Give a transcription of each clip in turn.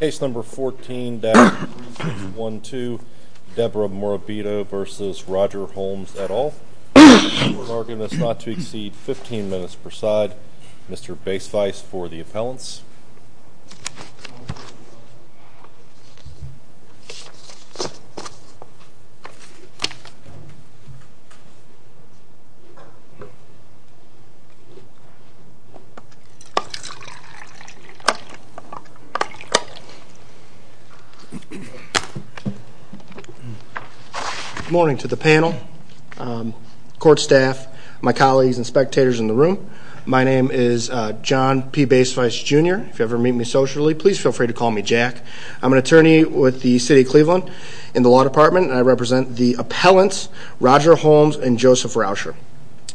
Case number 14-112, Deborah Morabito v. Roger Holmes et al. We're arguing this not to exceed 15 minutes per side. Mr. Baisweiss for the appellants. Good morning to the panel, court staff, my colleagues and spectators in the room. My name is John P. Baisweiss, Jr. If you ever meet me socially, please feel free to call me Jack. I'm an attorney with the City of Cleveland in the Law Department, and I represent the appellants Roger Holmes and Joseph Rauscher.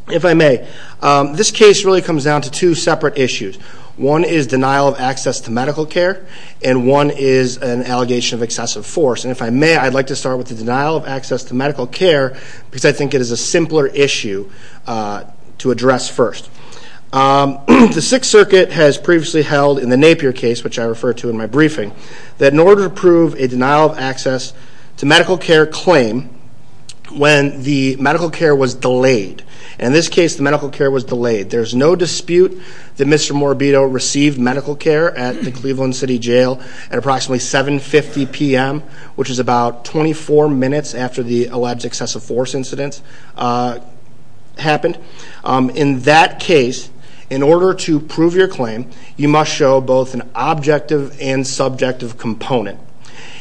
If I may, this case really comes down to two separate issues. One is denial of access to medical care, and one is an allegation of excessive force. And if I may, I'd like to start with the denial of access to medical care, because I think it is a simpler issue to address first. The Sixth Circuit has previously held in the Napier case, which I refer to in my briefing, that in order to prove a denial of access to medical care claim when the medical care was delayed, and in this case the medical care was delayed. There's no dispute that Mr. Morabito received medical care at the Cleveland City Jail at approximately 7.50 p.m., which is about 24 minutes after the alleged excessive force incident happened. In that case, in order to prove your claim, you must show both an objective and subjective component.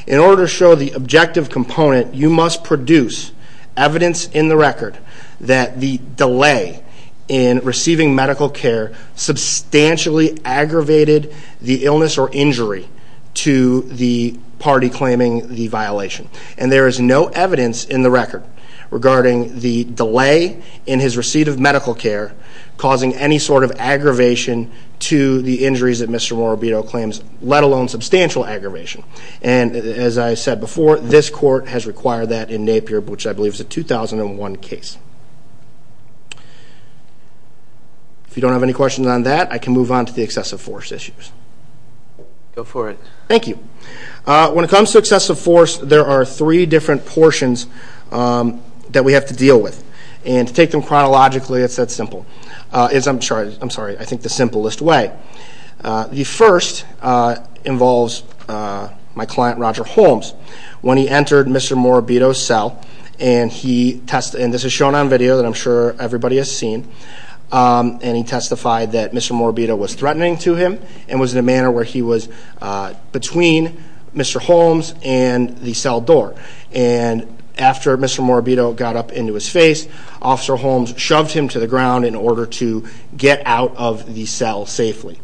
In order to show the objective component, you must produce evidence in the record that the delay in receiving medical care substantially aggravated the illness or injury to the party claiming the violation. And there is no evidence in the record regarding the delay in his receipt of medical care causing any sort of aggravation to the injuries that Mr. Morabito claims, let alone substantial aggravation. And as I said before, this court has required that in Napier, which I believe is a 2001 case. If you don't have any questions on that, I can move on to the excessive force issues. Go for it. Thank you. When it comes to excessive force, there are three different portions that we have to deal with. And to take them chronologically, it's that simple. I'm sorry, I think the simplest way. The first involves my client Roger Holmes. When he entered Mr. Morabito's cell, and this is shown on video that I'm sure everybody has seen, and he testified that Mr. Morabito was threatening to him and was in a manner where he was between Mr. Holmes and the cell door. And after Mr. Morabito got up into his face, Officer Holmes shoved him to the ground in order to get out of the cell safely.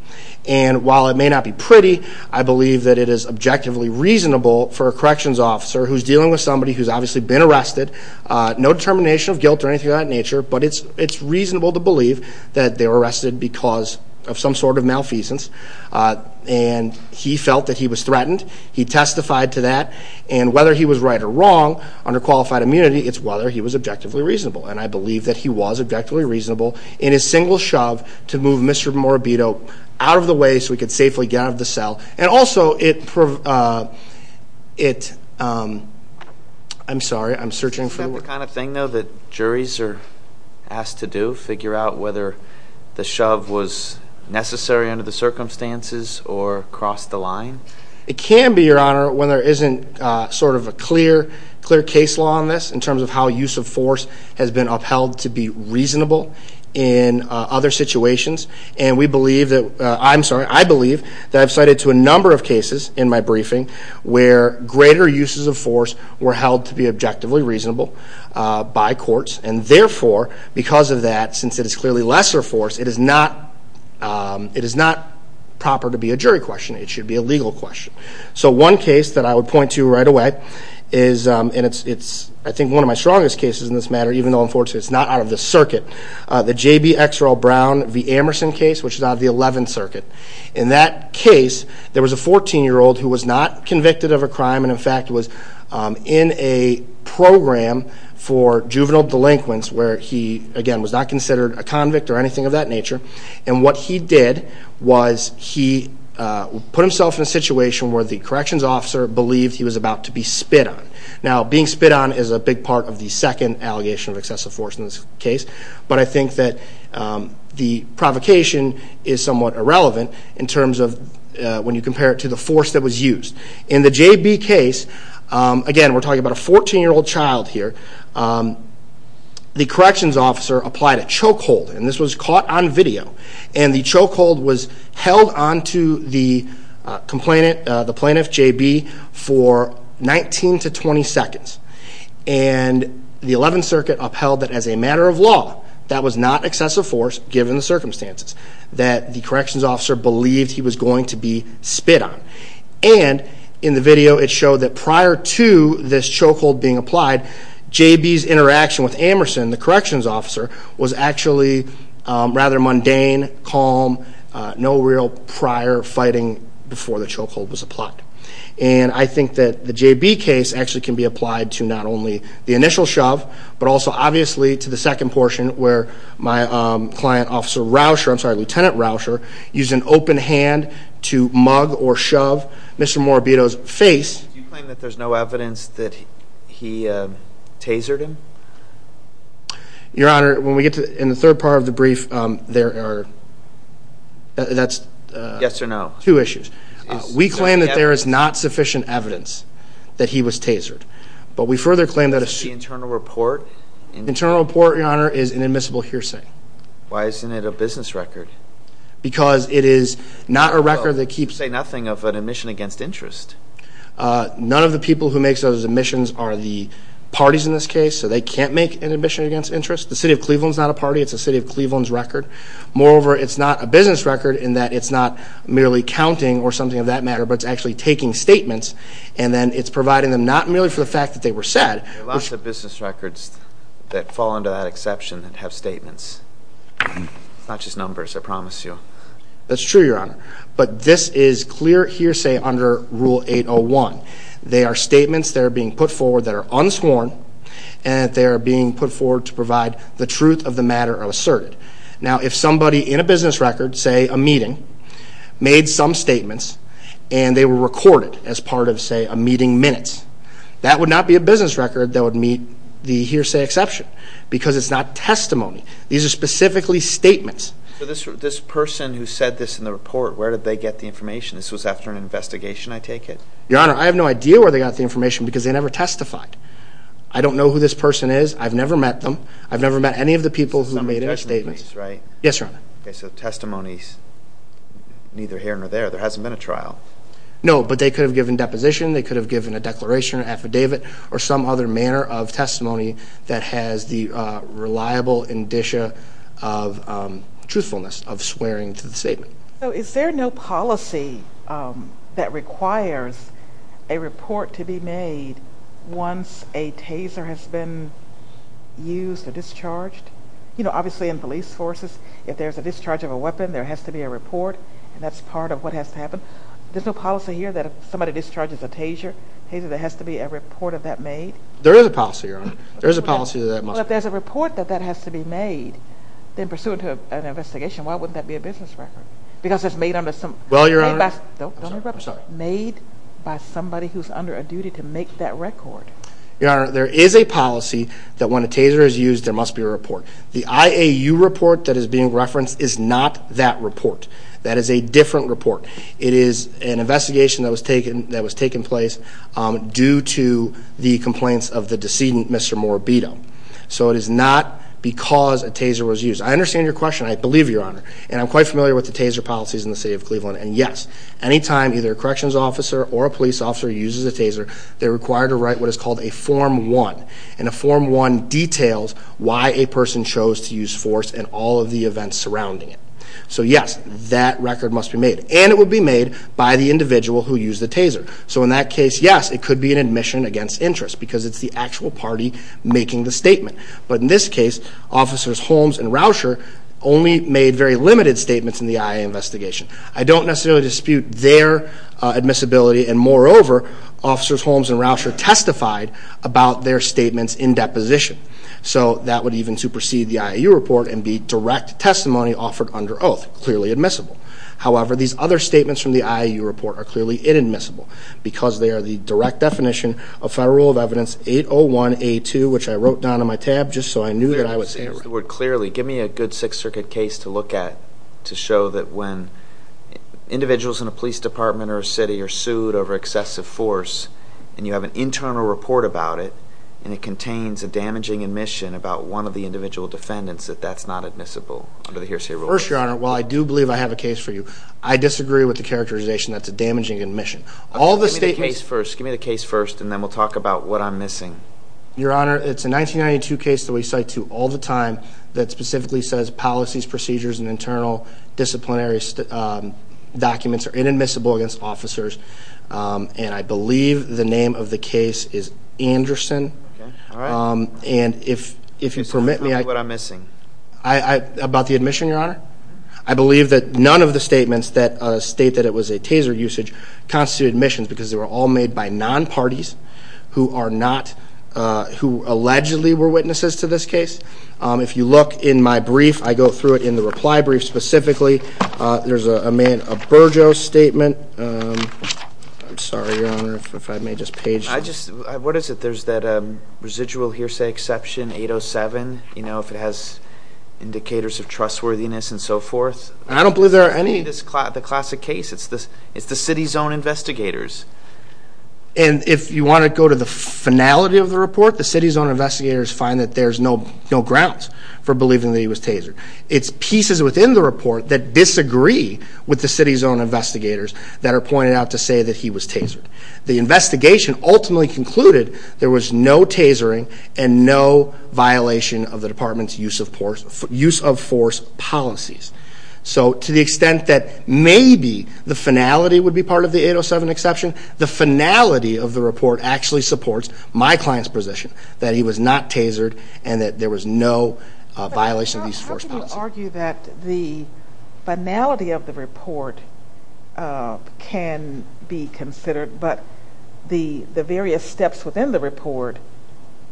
And while it may not be pretty, I believe that it is objectively reasonable for a corrections officer who's dealing with somebody who's obviously been arrested, no determination of guilt or anything of that nature, but it's reasonable to believe that they were arrested because of some sort of malfeasance. And he felt that he was threatened. He testified to that. And whether he was right or wrong under qualified immunity, it's whether he was objectively reasonable. And I believe that he was objectively reasonable in his single shove to move Mr. Morabito out of the way so he could safely get out of the cell. And also, it – I'm sorry, I'm searching for the word. Is that the kind of thing, though, that juries are asked to do, figure out whether the shove was necessary under the circumstances or cross the line? It can be, Your Honor, when there isn't sort of a clear case law on this in terms of how use of force has been upheld to be reasonable in other situations. And we believe that – I'm sorry, I believe that I've cited to a number of cases in my briefing where greater uses of force were held to be objectively reasonable by courts. And therefore, because of that, since it is clearly lesser force, it is not proper to be a jury question. It should be a legal question. So one case that I would point to right away is – and it's, I think, one of my strongest cases in this matter, even though, unfortunately, it's not out of the circuit – the J.B. X. Earl Brown v. Amerson case, which is out of the Eleventh Circuit. In that case, there was a 14-year-old who was not convicted of a crime and, in fact, was in a program for juvenile delinquents where he, again, was not considered a convict or anything of that nature. And what he did was he put himself in a situation where the corrections officer believed he was about to be spit on. Now, being spit on is a big part of the second allegation of excessive force in this case, but I think that the provocation is somewhat irrelevant in terms of when you compare it to the force that was used. In the J.B. case, again, we're talking about a 14-year-old child here. The corrections officer applied a chokehold, and this was caught on video. And the chokehold was held onto the complainant, the plaintiff, J.B., for 19 to 20 seconds. And the Eleventh Circuit upheld that as a matter of law, that was not excessive force given the circumstances, that the corrections officer believed he was going to be spit on. And in the video, it showed that prior to this chokehold being applied, J.B.'s interaction with Amerson, the corrections officer, was actually rather mundane, calm, no real prior fighting before the chokehold was applied. And I think that the J.B. case actually can be applied to not only the initial shove, but also obviously to the second portion where my client, Officer Rauscher, I'm sorry, Lieutenant Rauscher, used an open hand to mug or shove Mr. Morabito's face. Do you claim that there's no evidence that he tasered him? Your Honor, when we get to the third part of the brief, there are two issues. We claim that there is not sufficient evidence that he was tasered. But we further claim that the internal report is an admissible hearsay. Why isn't it a business record? Because it is not a record that keeps... You say nothing of an admission against interest. None of the people who make those admissions are the parties in this case, so they can't make an admission against interest. The City of Cleveland is not a party. It's the City of Cleveland's record. Moreover, it's not a business record in that it's not merely counting or something of that matter, but it's actually taking statements, and then it's providing them not merely for the fact that they were said. There are lots of business records that fall under that exception and have statements. It's not just numbers, I promise you. That's true, Your Honor. But this is clear hearsay under Rule 801. They are statements that are being put forward that are unsworn, and they are being put forward to provide the truth of the matter asserted. Now, if somebody in a business record, say a meeting, made some statements, and they were recorded as part of, say, a meeting minutes, that would not be a business record that would meet the hearsay exception because it's not testimony. These are specifically statements. So this person who said this in the report, where did they get the information? This was after an investigation, I take it? Your Honor, I have no idea where they got the information because they never testified. I don't know who this person is. I've never met them. I've never met any of the people who made any statements. Some of the testimonies, right? Yes, Your Honor. Okay, so testimonies neither here nor there. There hasn't been a trial. No, but they could have given deposition. They could have given a declaration, an affidavit, or some other manner of testimony that has the reliable indicia of truthfulness, of swearing to the statement. So is there no policy that requires a report to be made once a taser has been used or discharged? You know, obviously in police forces, if there's a discharge of a weapon, there has to be a report, and that's part of what has to happen. There's no policy here that if somebody discharges a taser, there has to be a report of that made? There is a policy, Your Honor. There is a policy that must be made. Well, if there's a report that that has to be made, then pursuant to an investigation, why wouldn't that be a business record? Because it's made under some— Well, Your Honor— Don't interrupt me. I'm sorry. Made by somebody who's under a duty to make that record. Your Honor, there is a policy that when a taser is used, there must be a report. The IAU report that is being referenced is not that report. That is a different report. It is an investigation that was taken place due to the complaints of the decedent, Mr. Morbito. So it is not because a taser was used. I understand your question. I believe you, Your Honor. And I'm quite familiar with the taser policies in the city of Cleveland. And, yes, any time either a corrections officer or a police officer uses a taser, they're required to write what is called a Form 1. And a Form 1 details why a person chose to use force and all of the events surrounding it. So, yes, that record must be made. And it would be made by the individual who used the taser. So in that case, yes, it could be an admission against interest because it's the actual party making the statement. But in this case, Officers Holmes and Rauscher only made very limited statements in the IAU investigation. I don't necessarily dispute their admissibility. And, moreover, Officers Holmes and Rauscher testified about their statements in deposition. So that would even supersede the IAU report and be direct testimony offered under oath, clearly admissible. However, these other statements from the IAU report are clearly inadmissible because they are the direct definition of Federal Rule of Evidence 801A2, which I wrote down on my tab just so I knew that I would say it right. Give me a good Sixth Circuit case to look at to show that when individuals in a police department or a city are sued over excessive force and you have an internal report about it and it contains a damaging admission about one of the individual defendants, that that's not admissible under the hearsay rule. First, Your Honor, while I do believe I have a case for you, I disagree with the characterization that it's a damaging admission. Give me the case first and then we'll talk about what I'm missing. Your Honor, it's a 1992 case that we cite to all the time that specifically says policies, procedures, and internal disciplinary documents are inadmissible against officers. And I believe the name of the case is Anderson. Okay. All right. And if you permit me, I... Tell me what I'm missing. About the admission, Your Honor? I believe that none of the statements that state that it was a taser usage constitute admissions because they were all made by non-parties who are not, who allegedly were witnesses to this case. If you look in my brief, I go through it in the reply brief specifically. There's a man, a Burgos statement. I'm sorry, Your Honor, if I may just page... I just, what is it? There's that residual hearsay exception 807. You know, if it has indicators of trustworthiness and so forth. I don't believe there are any... It's the classic case. It's the city zone investigators. And if you want to go to the finality of the report, the city zone investigators find that there's no grounds for believing that he was tasered. It's pieces within the report that disagree with the city zone investigators that are pointed out to say that he was tasered. The investigation ultimately concluded there was no tasering and no violation of the department's use of force policies. So to the extent that maybe the finality would be part of the 807 exception, the finality of the report actually supports my client's position that he was not tasered and that there was no violation of these force policies. Would you argue that the finality of the report can be considered but the various steps within the report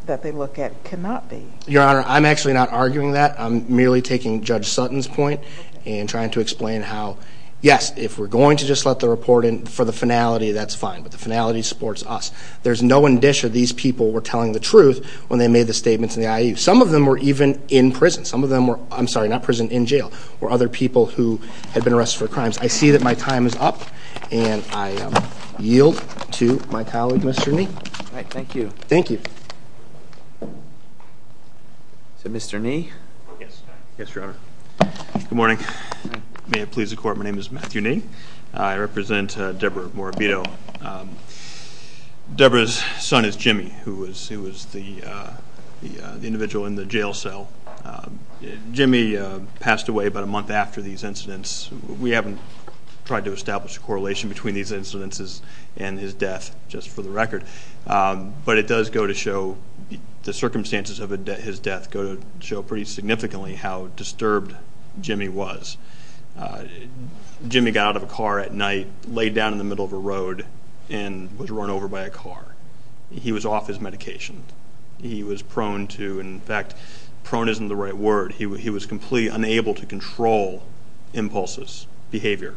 that they look at cannot be? Your Honor, I'm actually not arguing that. I'm merely taking Judge Sutton's point and trying to explain how, yes, if we're going to just let the report in for the finality, that's fine, but the finality supports us. There's no indicia these people were telling the truth when they made the statements in the IAU. Some of them were even in prison. Some of them were, I'm sorry, not prison, in jail, were other people who had been arrested for crimes. I see that my time is up, and I yield to my colleague, Mr. Nee. All right, thank you. Thank you. So Mr. Nee? Yes, Your Honor. Good morning. May it please the Court, my name is Matthew Nee. I represent Deborah Morabito. Deborah's son is Jimmy, who was the individual in the jail cell. Jimmy passed away about a month after these incidents. We haven't tried to establish a correlation between these incidences and his death, just for the record, but it does go to show the circumstances of his death go to show pretty significantly how disturbed Jimmy was. Jimmy got out of a car at night, laid down in the middle of a road, and was run over by a car. He was off his medication. He was prone to, in fact, prone isn't the right word. He was completely unable to control impulses, behavior,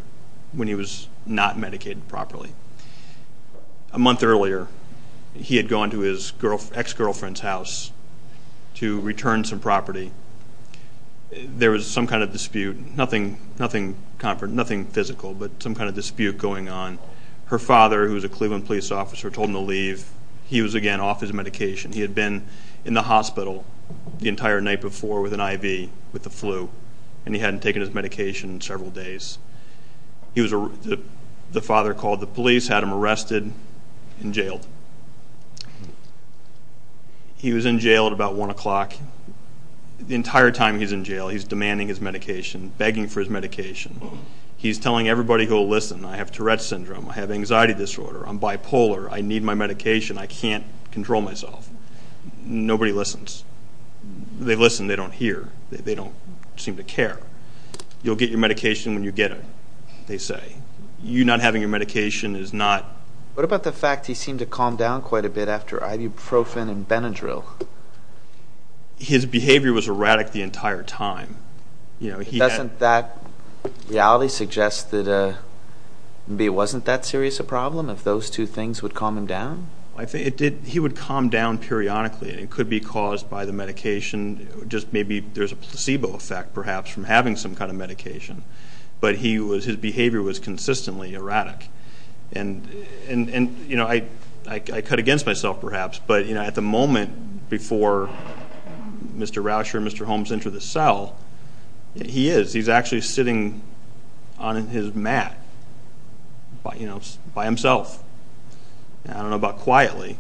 when he was not medicated properly. A month earlier, he had gone to his ex-girlfriend's house to return some property. There was some kind of dispute, nothing physical, but some kind of dispute going on. Her father, who was a Cleveland police officer, told him to leave. He was again off his medication. He had been in the hospital the entire night before with an IV with the flu, and he hadn't taken his medication in several days. The father called the police, had him arrested, and jailed. He was in jail at about 1 o'clock. The entire time he's in jail, he's demanding his medication, begging for his medication. He's telling everybody who will listen, I have Tourette syndrome, I have anxiety disorder, I'm bipolar, I need my medication, I can't control myself. Nobody listens. They listen, they don't hear. They don't seem to care. You'll get your medication when you get it, they say. You not having your medication is not... What about the fact he seemed to calm down quite a bit after ibuprofen and Benadryl? His behavior was erratic the entire time. Doesn't that reality suggest that it wasn't that serious a problem, if those two things would calm him down? He would calm down periodically, and it could be caused by the medication, just maybe there's a placebo effect perhaps from having some kind of medication. But his behavior was consistently erratic. And I cut against myself perhaps, but at the moment before Mr. Rauscher and Mr. Holmes enter the cell, he is. He's actually sitting on his mat by himself. I don't know about quietly.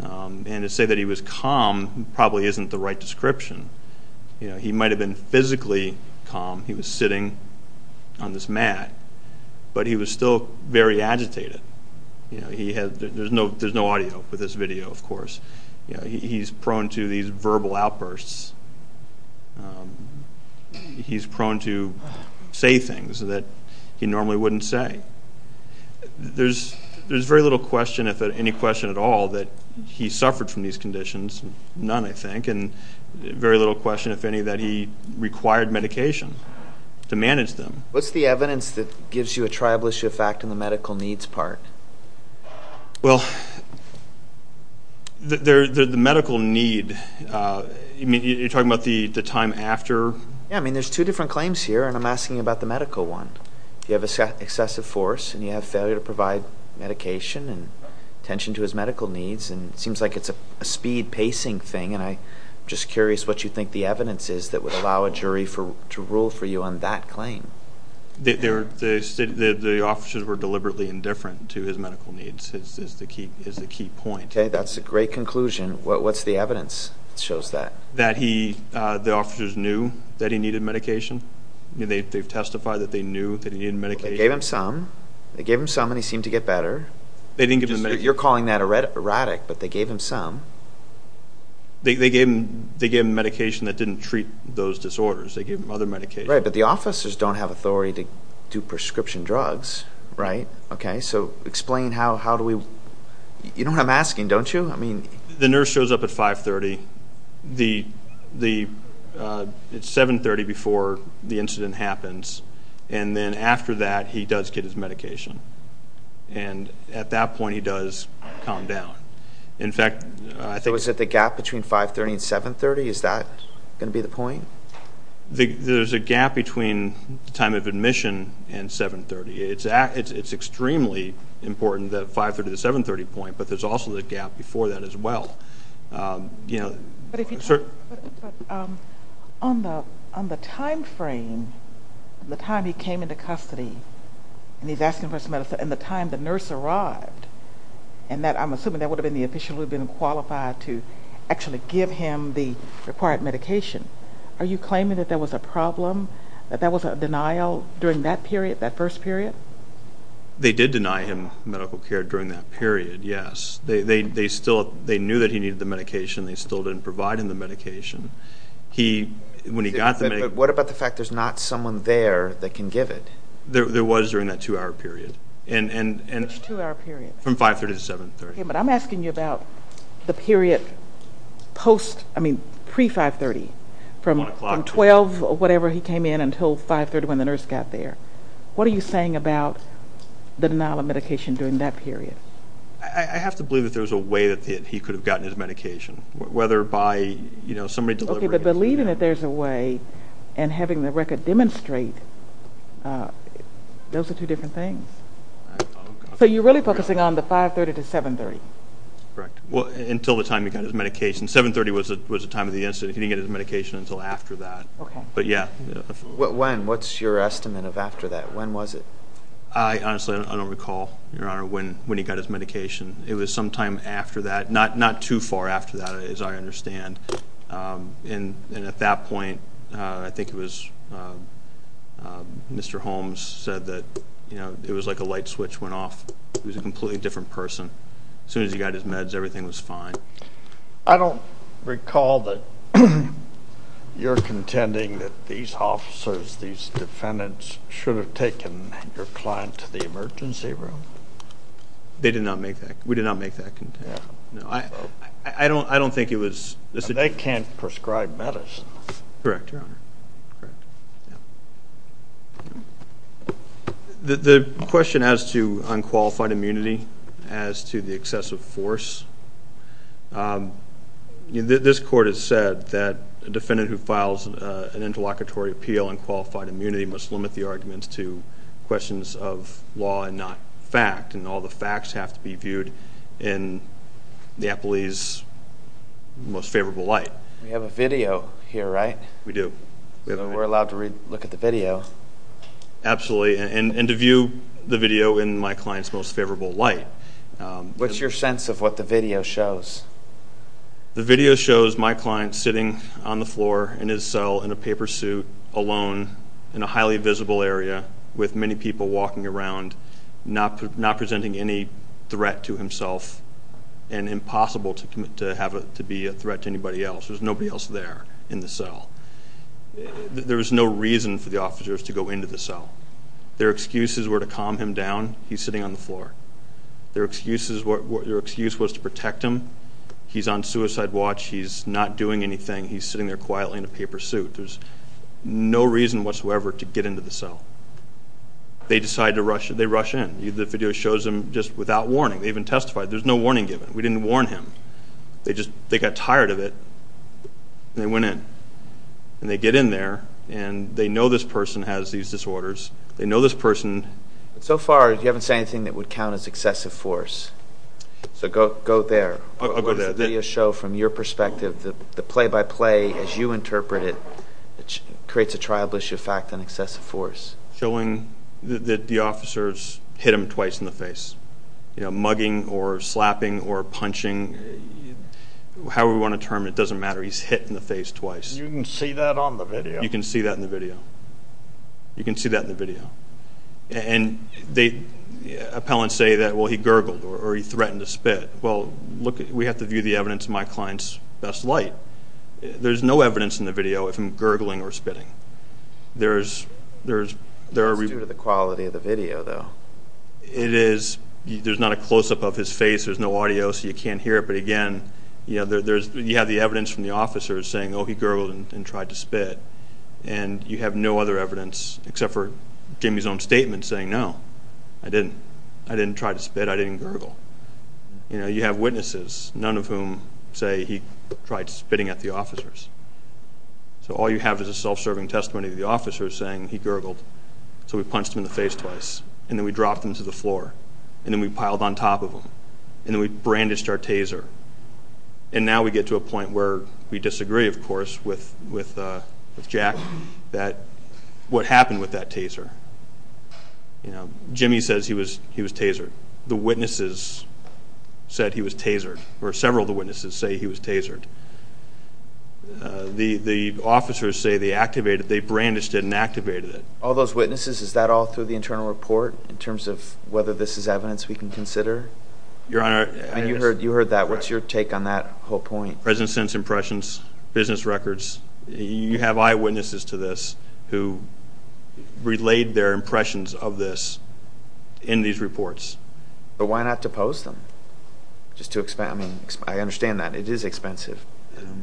And to say that he was calm probably isn't the right description. He might have been physically calm. He was sitting on this mat. But he was still very agitated. There's no audio for this video, of course. He's prone to these verbal outbursts. He's prone to say things that he normally wouldn't say. There's very little question, if any question at all, that he suffered from these conditions. None, I think. And very little question, if any, that he required medication to manage them. What's the evidence that gives you a tribalist effect on the medical needs part? Well, the medical need, you're talking about the time after? Yeah, I mean, there's two different claims here, and I'm asking about the medical one. You have excessive force, and you have failure to provide medication and attention to his medical needs, and it seems like it's a speed pacing thing. And I'm just curious what you think the evidence is that would allow a jury to rule for you on that claim. The officers were deliberately indifferent to his medical needs is the key point. Okay, that's a great conclusion. What's the evidence that shows that? That the officers knew that he needed medication. They've testified that they knew that he needed medication. They gave him some. They gave him some, and he seemed to get better. You're calling that erratic, but they gave him some. They gave him medication that didn't treat those disorders. They gave him other medication. Right, but the officers don't have authority to do prescription drugs, right? Okay, so explain how do we? You know what I'm asking, don't you? The nurse shows up at 530. It's 730 before the incident happens, and then after that, he does get his medication. And at that point, he does calm down. In fact, I think. So is it the gap between 530 and 730? Is that going to be the point? There's a gap between the time of admission and 730. It's extremely important that 530 to the 730 point, but there's also the gap before that as well. But on the time frame, the time he came into custody, and he's asking for his medicine, and the time the nurse arrived, and I'm assuming that would have been the official who had been qualified to actually give him the required medication. Are you claiming that there was a problem, that there was a denial during that period, that first period? They did deny him medical care during that period, yes. They knew that he needed the medication. They still didn't provide him the medication. When he got the medication. But what about the fact there's not someone there that can give it? There was during that two-hour period. Which two-hour period? From 530 to 730. Okay, but I'm asking you about the period post, I mean pre-530, from 12, whatever, he came in until 530 when the nurse got there. What are you saying about the denial of medication during that period? I have to believe that there was a way that he could have gotten his medication, whether by somebody delivering it. Okay, but believing that there's a way and having the record demonstrate, those are two different things. So you're really focusing on the 530 to 730? Correct. Until the time he got his medication. 730 was the time of the incident. He didn't get his medication until after that. Okay. But, yeah. When? What's your estimate of after that? When was it? I honestly don't recall, Your Honor, when he got his medication. It was sometime after that. Not too far after that, as I understand. And at that point, I think it was Mr. Holmes said that it was like a light switch went off. He was a completely different person. As soon as he got his meds, everything was fine. I don't recall that you're contending that these officers, these defendants should have taken your client to the emergency room. They did not make that. We did not make that contention. I don't think it was. They can't prescribe medicine. Correct, Your Honor. The question as to unqualified immunity, as to the excessive force, this court has said that a defendant who files an interlocutory appeal on qualified immunity must limit the arguments to questions of law and not fact, and all the facts have to be viewed in the appellee's most favorable light. We have a video here, right? We do. We're allowed to look at the video. Absolutely, and to view the video in my client's most favorable light. What's your sense of what the video shows? The video shows my client sitting on the floor in his cell in a paper suit, alone in a highly visible area with many people walking around, not presenting any threat to himself and impossible to have it to be a threat to anybody else. There's nobody else there in the cell. There was no reason for the officers to go into the cell. Their excuses were to calm him down. He's sitting on the floor. Their excuse was to protect him. He's on suicide watch. He's not doing anything. He's sitting there quietly in a paper suit. There's no reason whatsoever to get into the cell. They decide to rush in. They rush in. The video shows them just without warning. They haven't testified. There's no warning given. We didn't warn him. They got tired of it, and they went in. They get in there, and they know this person has these disorders. They know this person. So far, you haven't said anything that would count as excessive force. So go there. What does the video show from your perspective? The play-by-play, as you interpret it, creates a tribalist effect on excessive force. Showing that the officers hit him twice in the face, mugging or slapping or punching, however you want to term it. It doesn't matter. He's hit in the face twice. You can see that on the video. You can see that in the video. You can see that in the video. And the appellants say that, well, he gurgled or he threatened to spit. Well, we have to view the evidence in my client's best light. There's no evidence in the video of him gurgling or spitting. It's due to the quality of the video, though. It is. There's not a close-up of his face. There's no audio, so you can't hear it. But, again, you have the evidence from the officers saying, oh, he gurgled and tried to spit, and you have no other evidence except for Jimmy's own statement saying, no, I didn't. I didn't try to spit. I didn't gurgle. You have witnesses, none of whom say he tried spitting at the officers. So all you have is a self-serving testimony of the officers saying, he gurgled, so we punched him in the face twice, and then we dropped him to the floor, and then we piled on top of him, and then we brandished our taser. And now we get to a point where we disagree, of course, with Jack, what happened with that taser. Jimmy says he was tasered. The witnesses said he was tasered, or several of the witnesses say he was tasered. The officers say they activated it. They brandished it and activated it. All those witnesses, is that all through the internal report, in terms of whether this is evidence we can consider? Your Honor, I guess. And you heard that. What's your take on that whole point? President sends impressions, business records. You have eyewitnesses to this who relayed their impressions of this in these reports. But why not depose them? I mean, I understand that. It is expensive.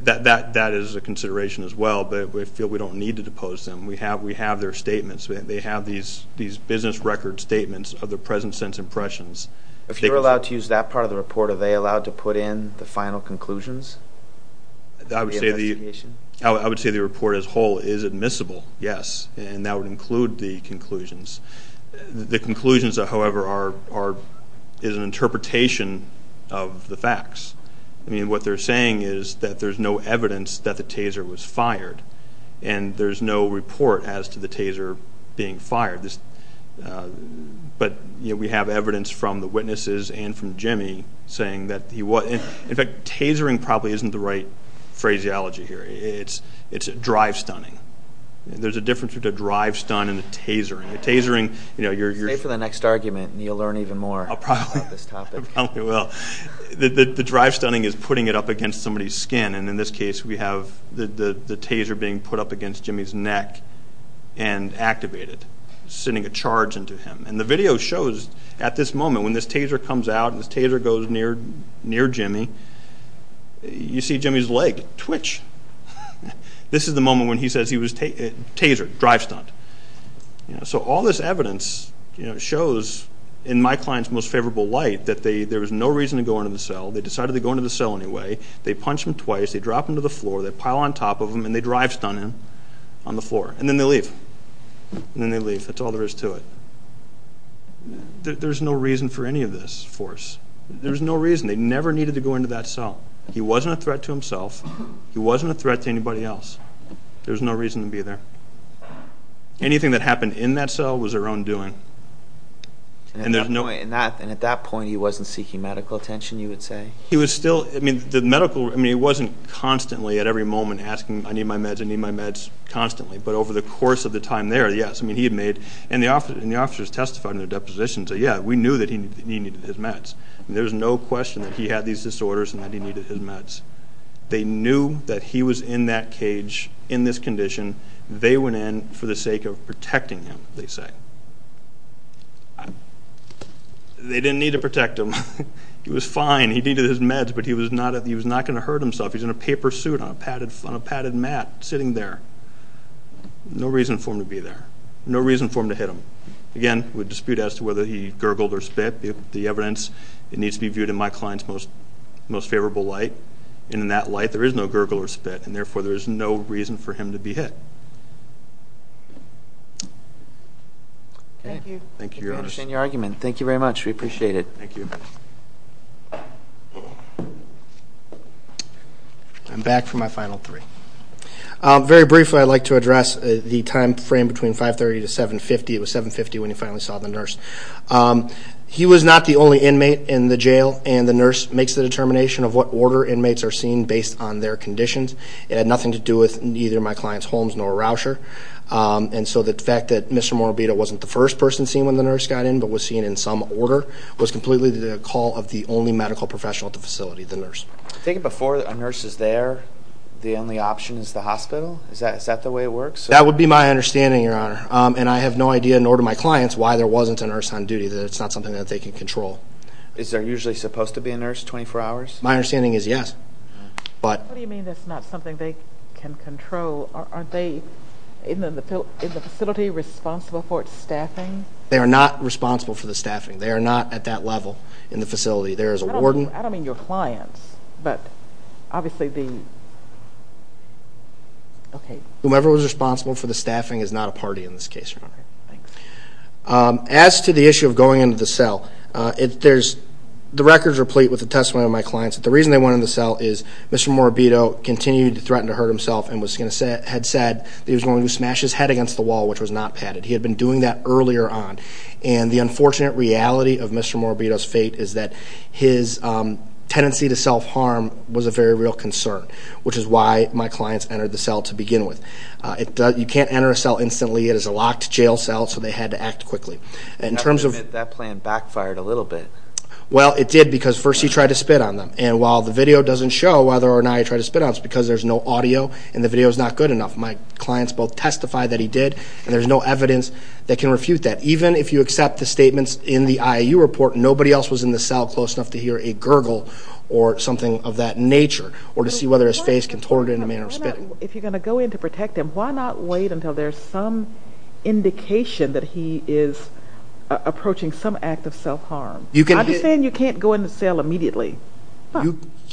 That is a consideration as well, but we feel we don't need to depose them. We have their statements. They have these business record statements of their present sense impressions. If you're allowed to use that part of the report, are they allowed to put in the final conclusions of the investigation? I would say the report as a whole is admissible, yes, and that would include the conclusions. The conclusions, however, is an interpretation of the facts. I mean, what they're saying is that there's no evidence that the taser was fired, and there's no report as to the taser being fired. But, you know, we have evidence from the witnesses and from Jimmy saying that he was. In fact, tasering probably isn't the right phraseology here. It's drive stunning. There's a difference between a drive stun and a tasering. A tasering, you know, you're used to. Stay for the next argument, and you'll learn even more about this topic. I probably will. The drive stunning is putting it up against somebody's skin, and in this case we have the taser being put up against Jimmy's neck and activated, sending a charge into him. And the video shows at this moment when this taser comes out, and this taser goes near Jimmy, you see Jimmy's leg twitch. This is the moment when he says he was tasered, drive stunned. So all this evidence shows, in my client's most favorable light, that there was no reason to go into the cell. They decided to go into the cell anyway. They punch him twice, they drop him to the floor, they pile on top of him, and they drive stun him on the floor. And then they leave. And then they leave. That's all there is to it. There's no reason for any of this force. There's no reason. They never needed to go into that cell. He wasn't a threat to himself. He wasn't a threat to anybody else. There was no reason to be there. Anything that happened in that cell was their own doing. And at that point he wasn't seeking medical attention, you would say? He wasn't constantly at every moment asking, I need my meds, I need my meds, constantly. But over the course of the time there, yes, he had made, and the officers testified in their depositions, yeah, we knew that he needed his meds. There's no question that he had these disorders and that he needed his meds. They knew that he was in that cage, in this condition. They went in for the sake of protecting him, they say. They didn't need to protect him. He was fine, he needed his meds, but he was not going to hurt himself. He was in a paper suit on a padded mat, sitting there. No reason for him to be there. No reason for him to hit him. Again, with dispute as to whether he gurgled or spit, the evidence needs to be viewed in my client's most favorable light, and in that light there is no gurgle or spit, and therefore there is no reason for him to be hit. Thank you. Thank you, Your Honor. We understand your argument. Thank you very much, we appreciate it. Thank you. I'm back for my final three. Very briefly, I'd like to address the time frame between 530 to 750. It was 750 when he finally saw the nurse. He was not the only inmate in the jail, and the nurse makes the determination of what order inmates are seen based on their conditions. It had nothing to do with either my client's Holmes nor Rauscher, and so the fact that Mr. Morabito wasn't the first person seen when the nurse got in but was seen in some order was completely the call of the only medical professional at the facility, the nurse. Do you think before a nurse is there, the only option is the hospital? Is that the way it works? That would be my understanding, Your Honor, and I have no idea nor do my clients why there wasn't a nurse on duty, that it's not something that they can control. Is there usually supposed to be a nurse 24 hours? My understanding is yes. What do you mean that's not something they can control? Aren't they in the facility responsible for its staffing? They are not responsible for the staffing. They are not at that level in the facility. There is a warden. I don't mean your clients, but obviously the, okay. Whomever was responsible for the staffing is not a party in this case, Your Honor. Okay, thanks. As to the issue of going into the cell, the record is replete with the testimony of my clients. The reason they went in the cell is Mr. Morabito continued to threaten to hurt himself and had said that he was going to smash his head against the wall, which was not padded. He had been doing that earlier on. And the unfortunate reality of Mr. Morabito's fate is that his tendency to self-harm was a very real concern, which is why my clients entered the cell to begin with. You can't enter a cell instantly. It is a locked jail cell, so they had to act quickly. That plan backfired a little bit. Well, it did because first he tried to spit on them. And while the video doesn't show whether or not he tried to spit on them, it's because there's no audio and the video is not good enough. My clients both testified that he did, and there's no evidence that can refute that. Even if you accept the statements in the IAU report, nobody else was in the cell close enough to hear a gurgle or something of that nature or to see whether his face contorted in a manner of spitting. If you're going to go in to protect him, why not wait until there's some indication that he is approaching some act of self-harm? I'm just saying you can't go in the cell immediately.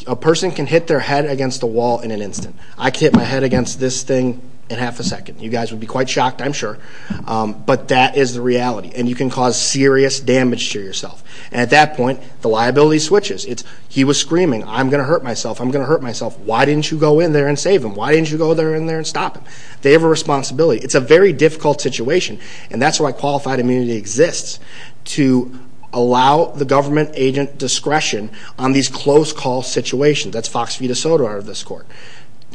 A person can hit their head against a wall in an instant. I can hit my head against this thing in half a second. You guys would be quite shocked, I'm sure. But that is the reality, and you can cause serious damage to yourself. At that point, the liability switches. He was screaming, I'm going to hurt myself, I'm going to hurt myself. Why didn't you go in there and save him? Why didn't you go in there and stop him? They have a responsibility. It's a very difficult situation, and that's why qualified immunity exists, to allow the government agent discretion on these close call situations. That's Fox Vita Soto out of this court.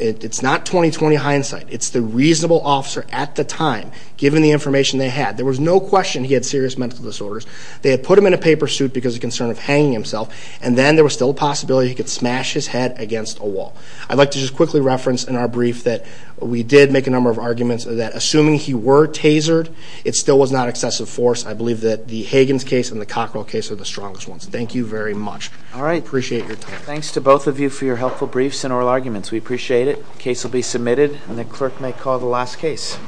It's not 20-20 hindsight. It's the reasonable officer at the time, given the information they had. There was no question he had serious mental disorders. They had put him in a paper suit because of concern of hanging himself, and then there was still a possibility he could smash his head against a wall. I'd like to just quickly reference in our brief that we did make a number of arguments that assuming he were tasered, it still was not excessive force. I believe that the Hagans case and the Cockrell case are the strongest ones. Thank you very much. I appreciate your time. Thanks to both of you for your helpful briefs and oral arguments. We appreciate it. The case will be submitted, and the clerk may call the last case.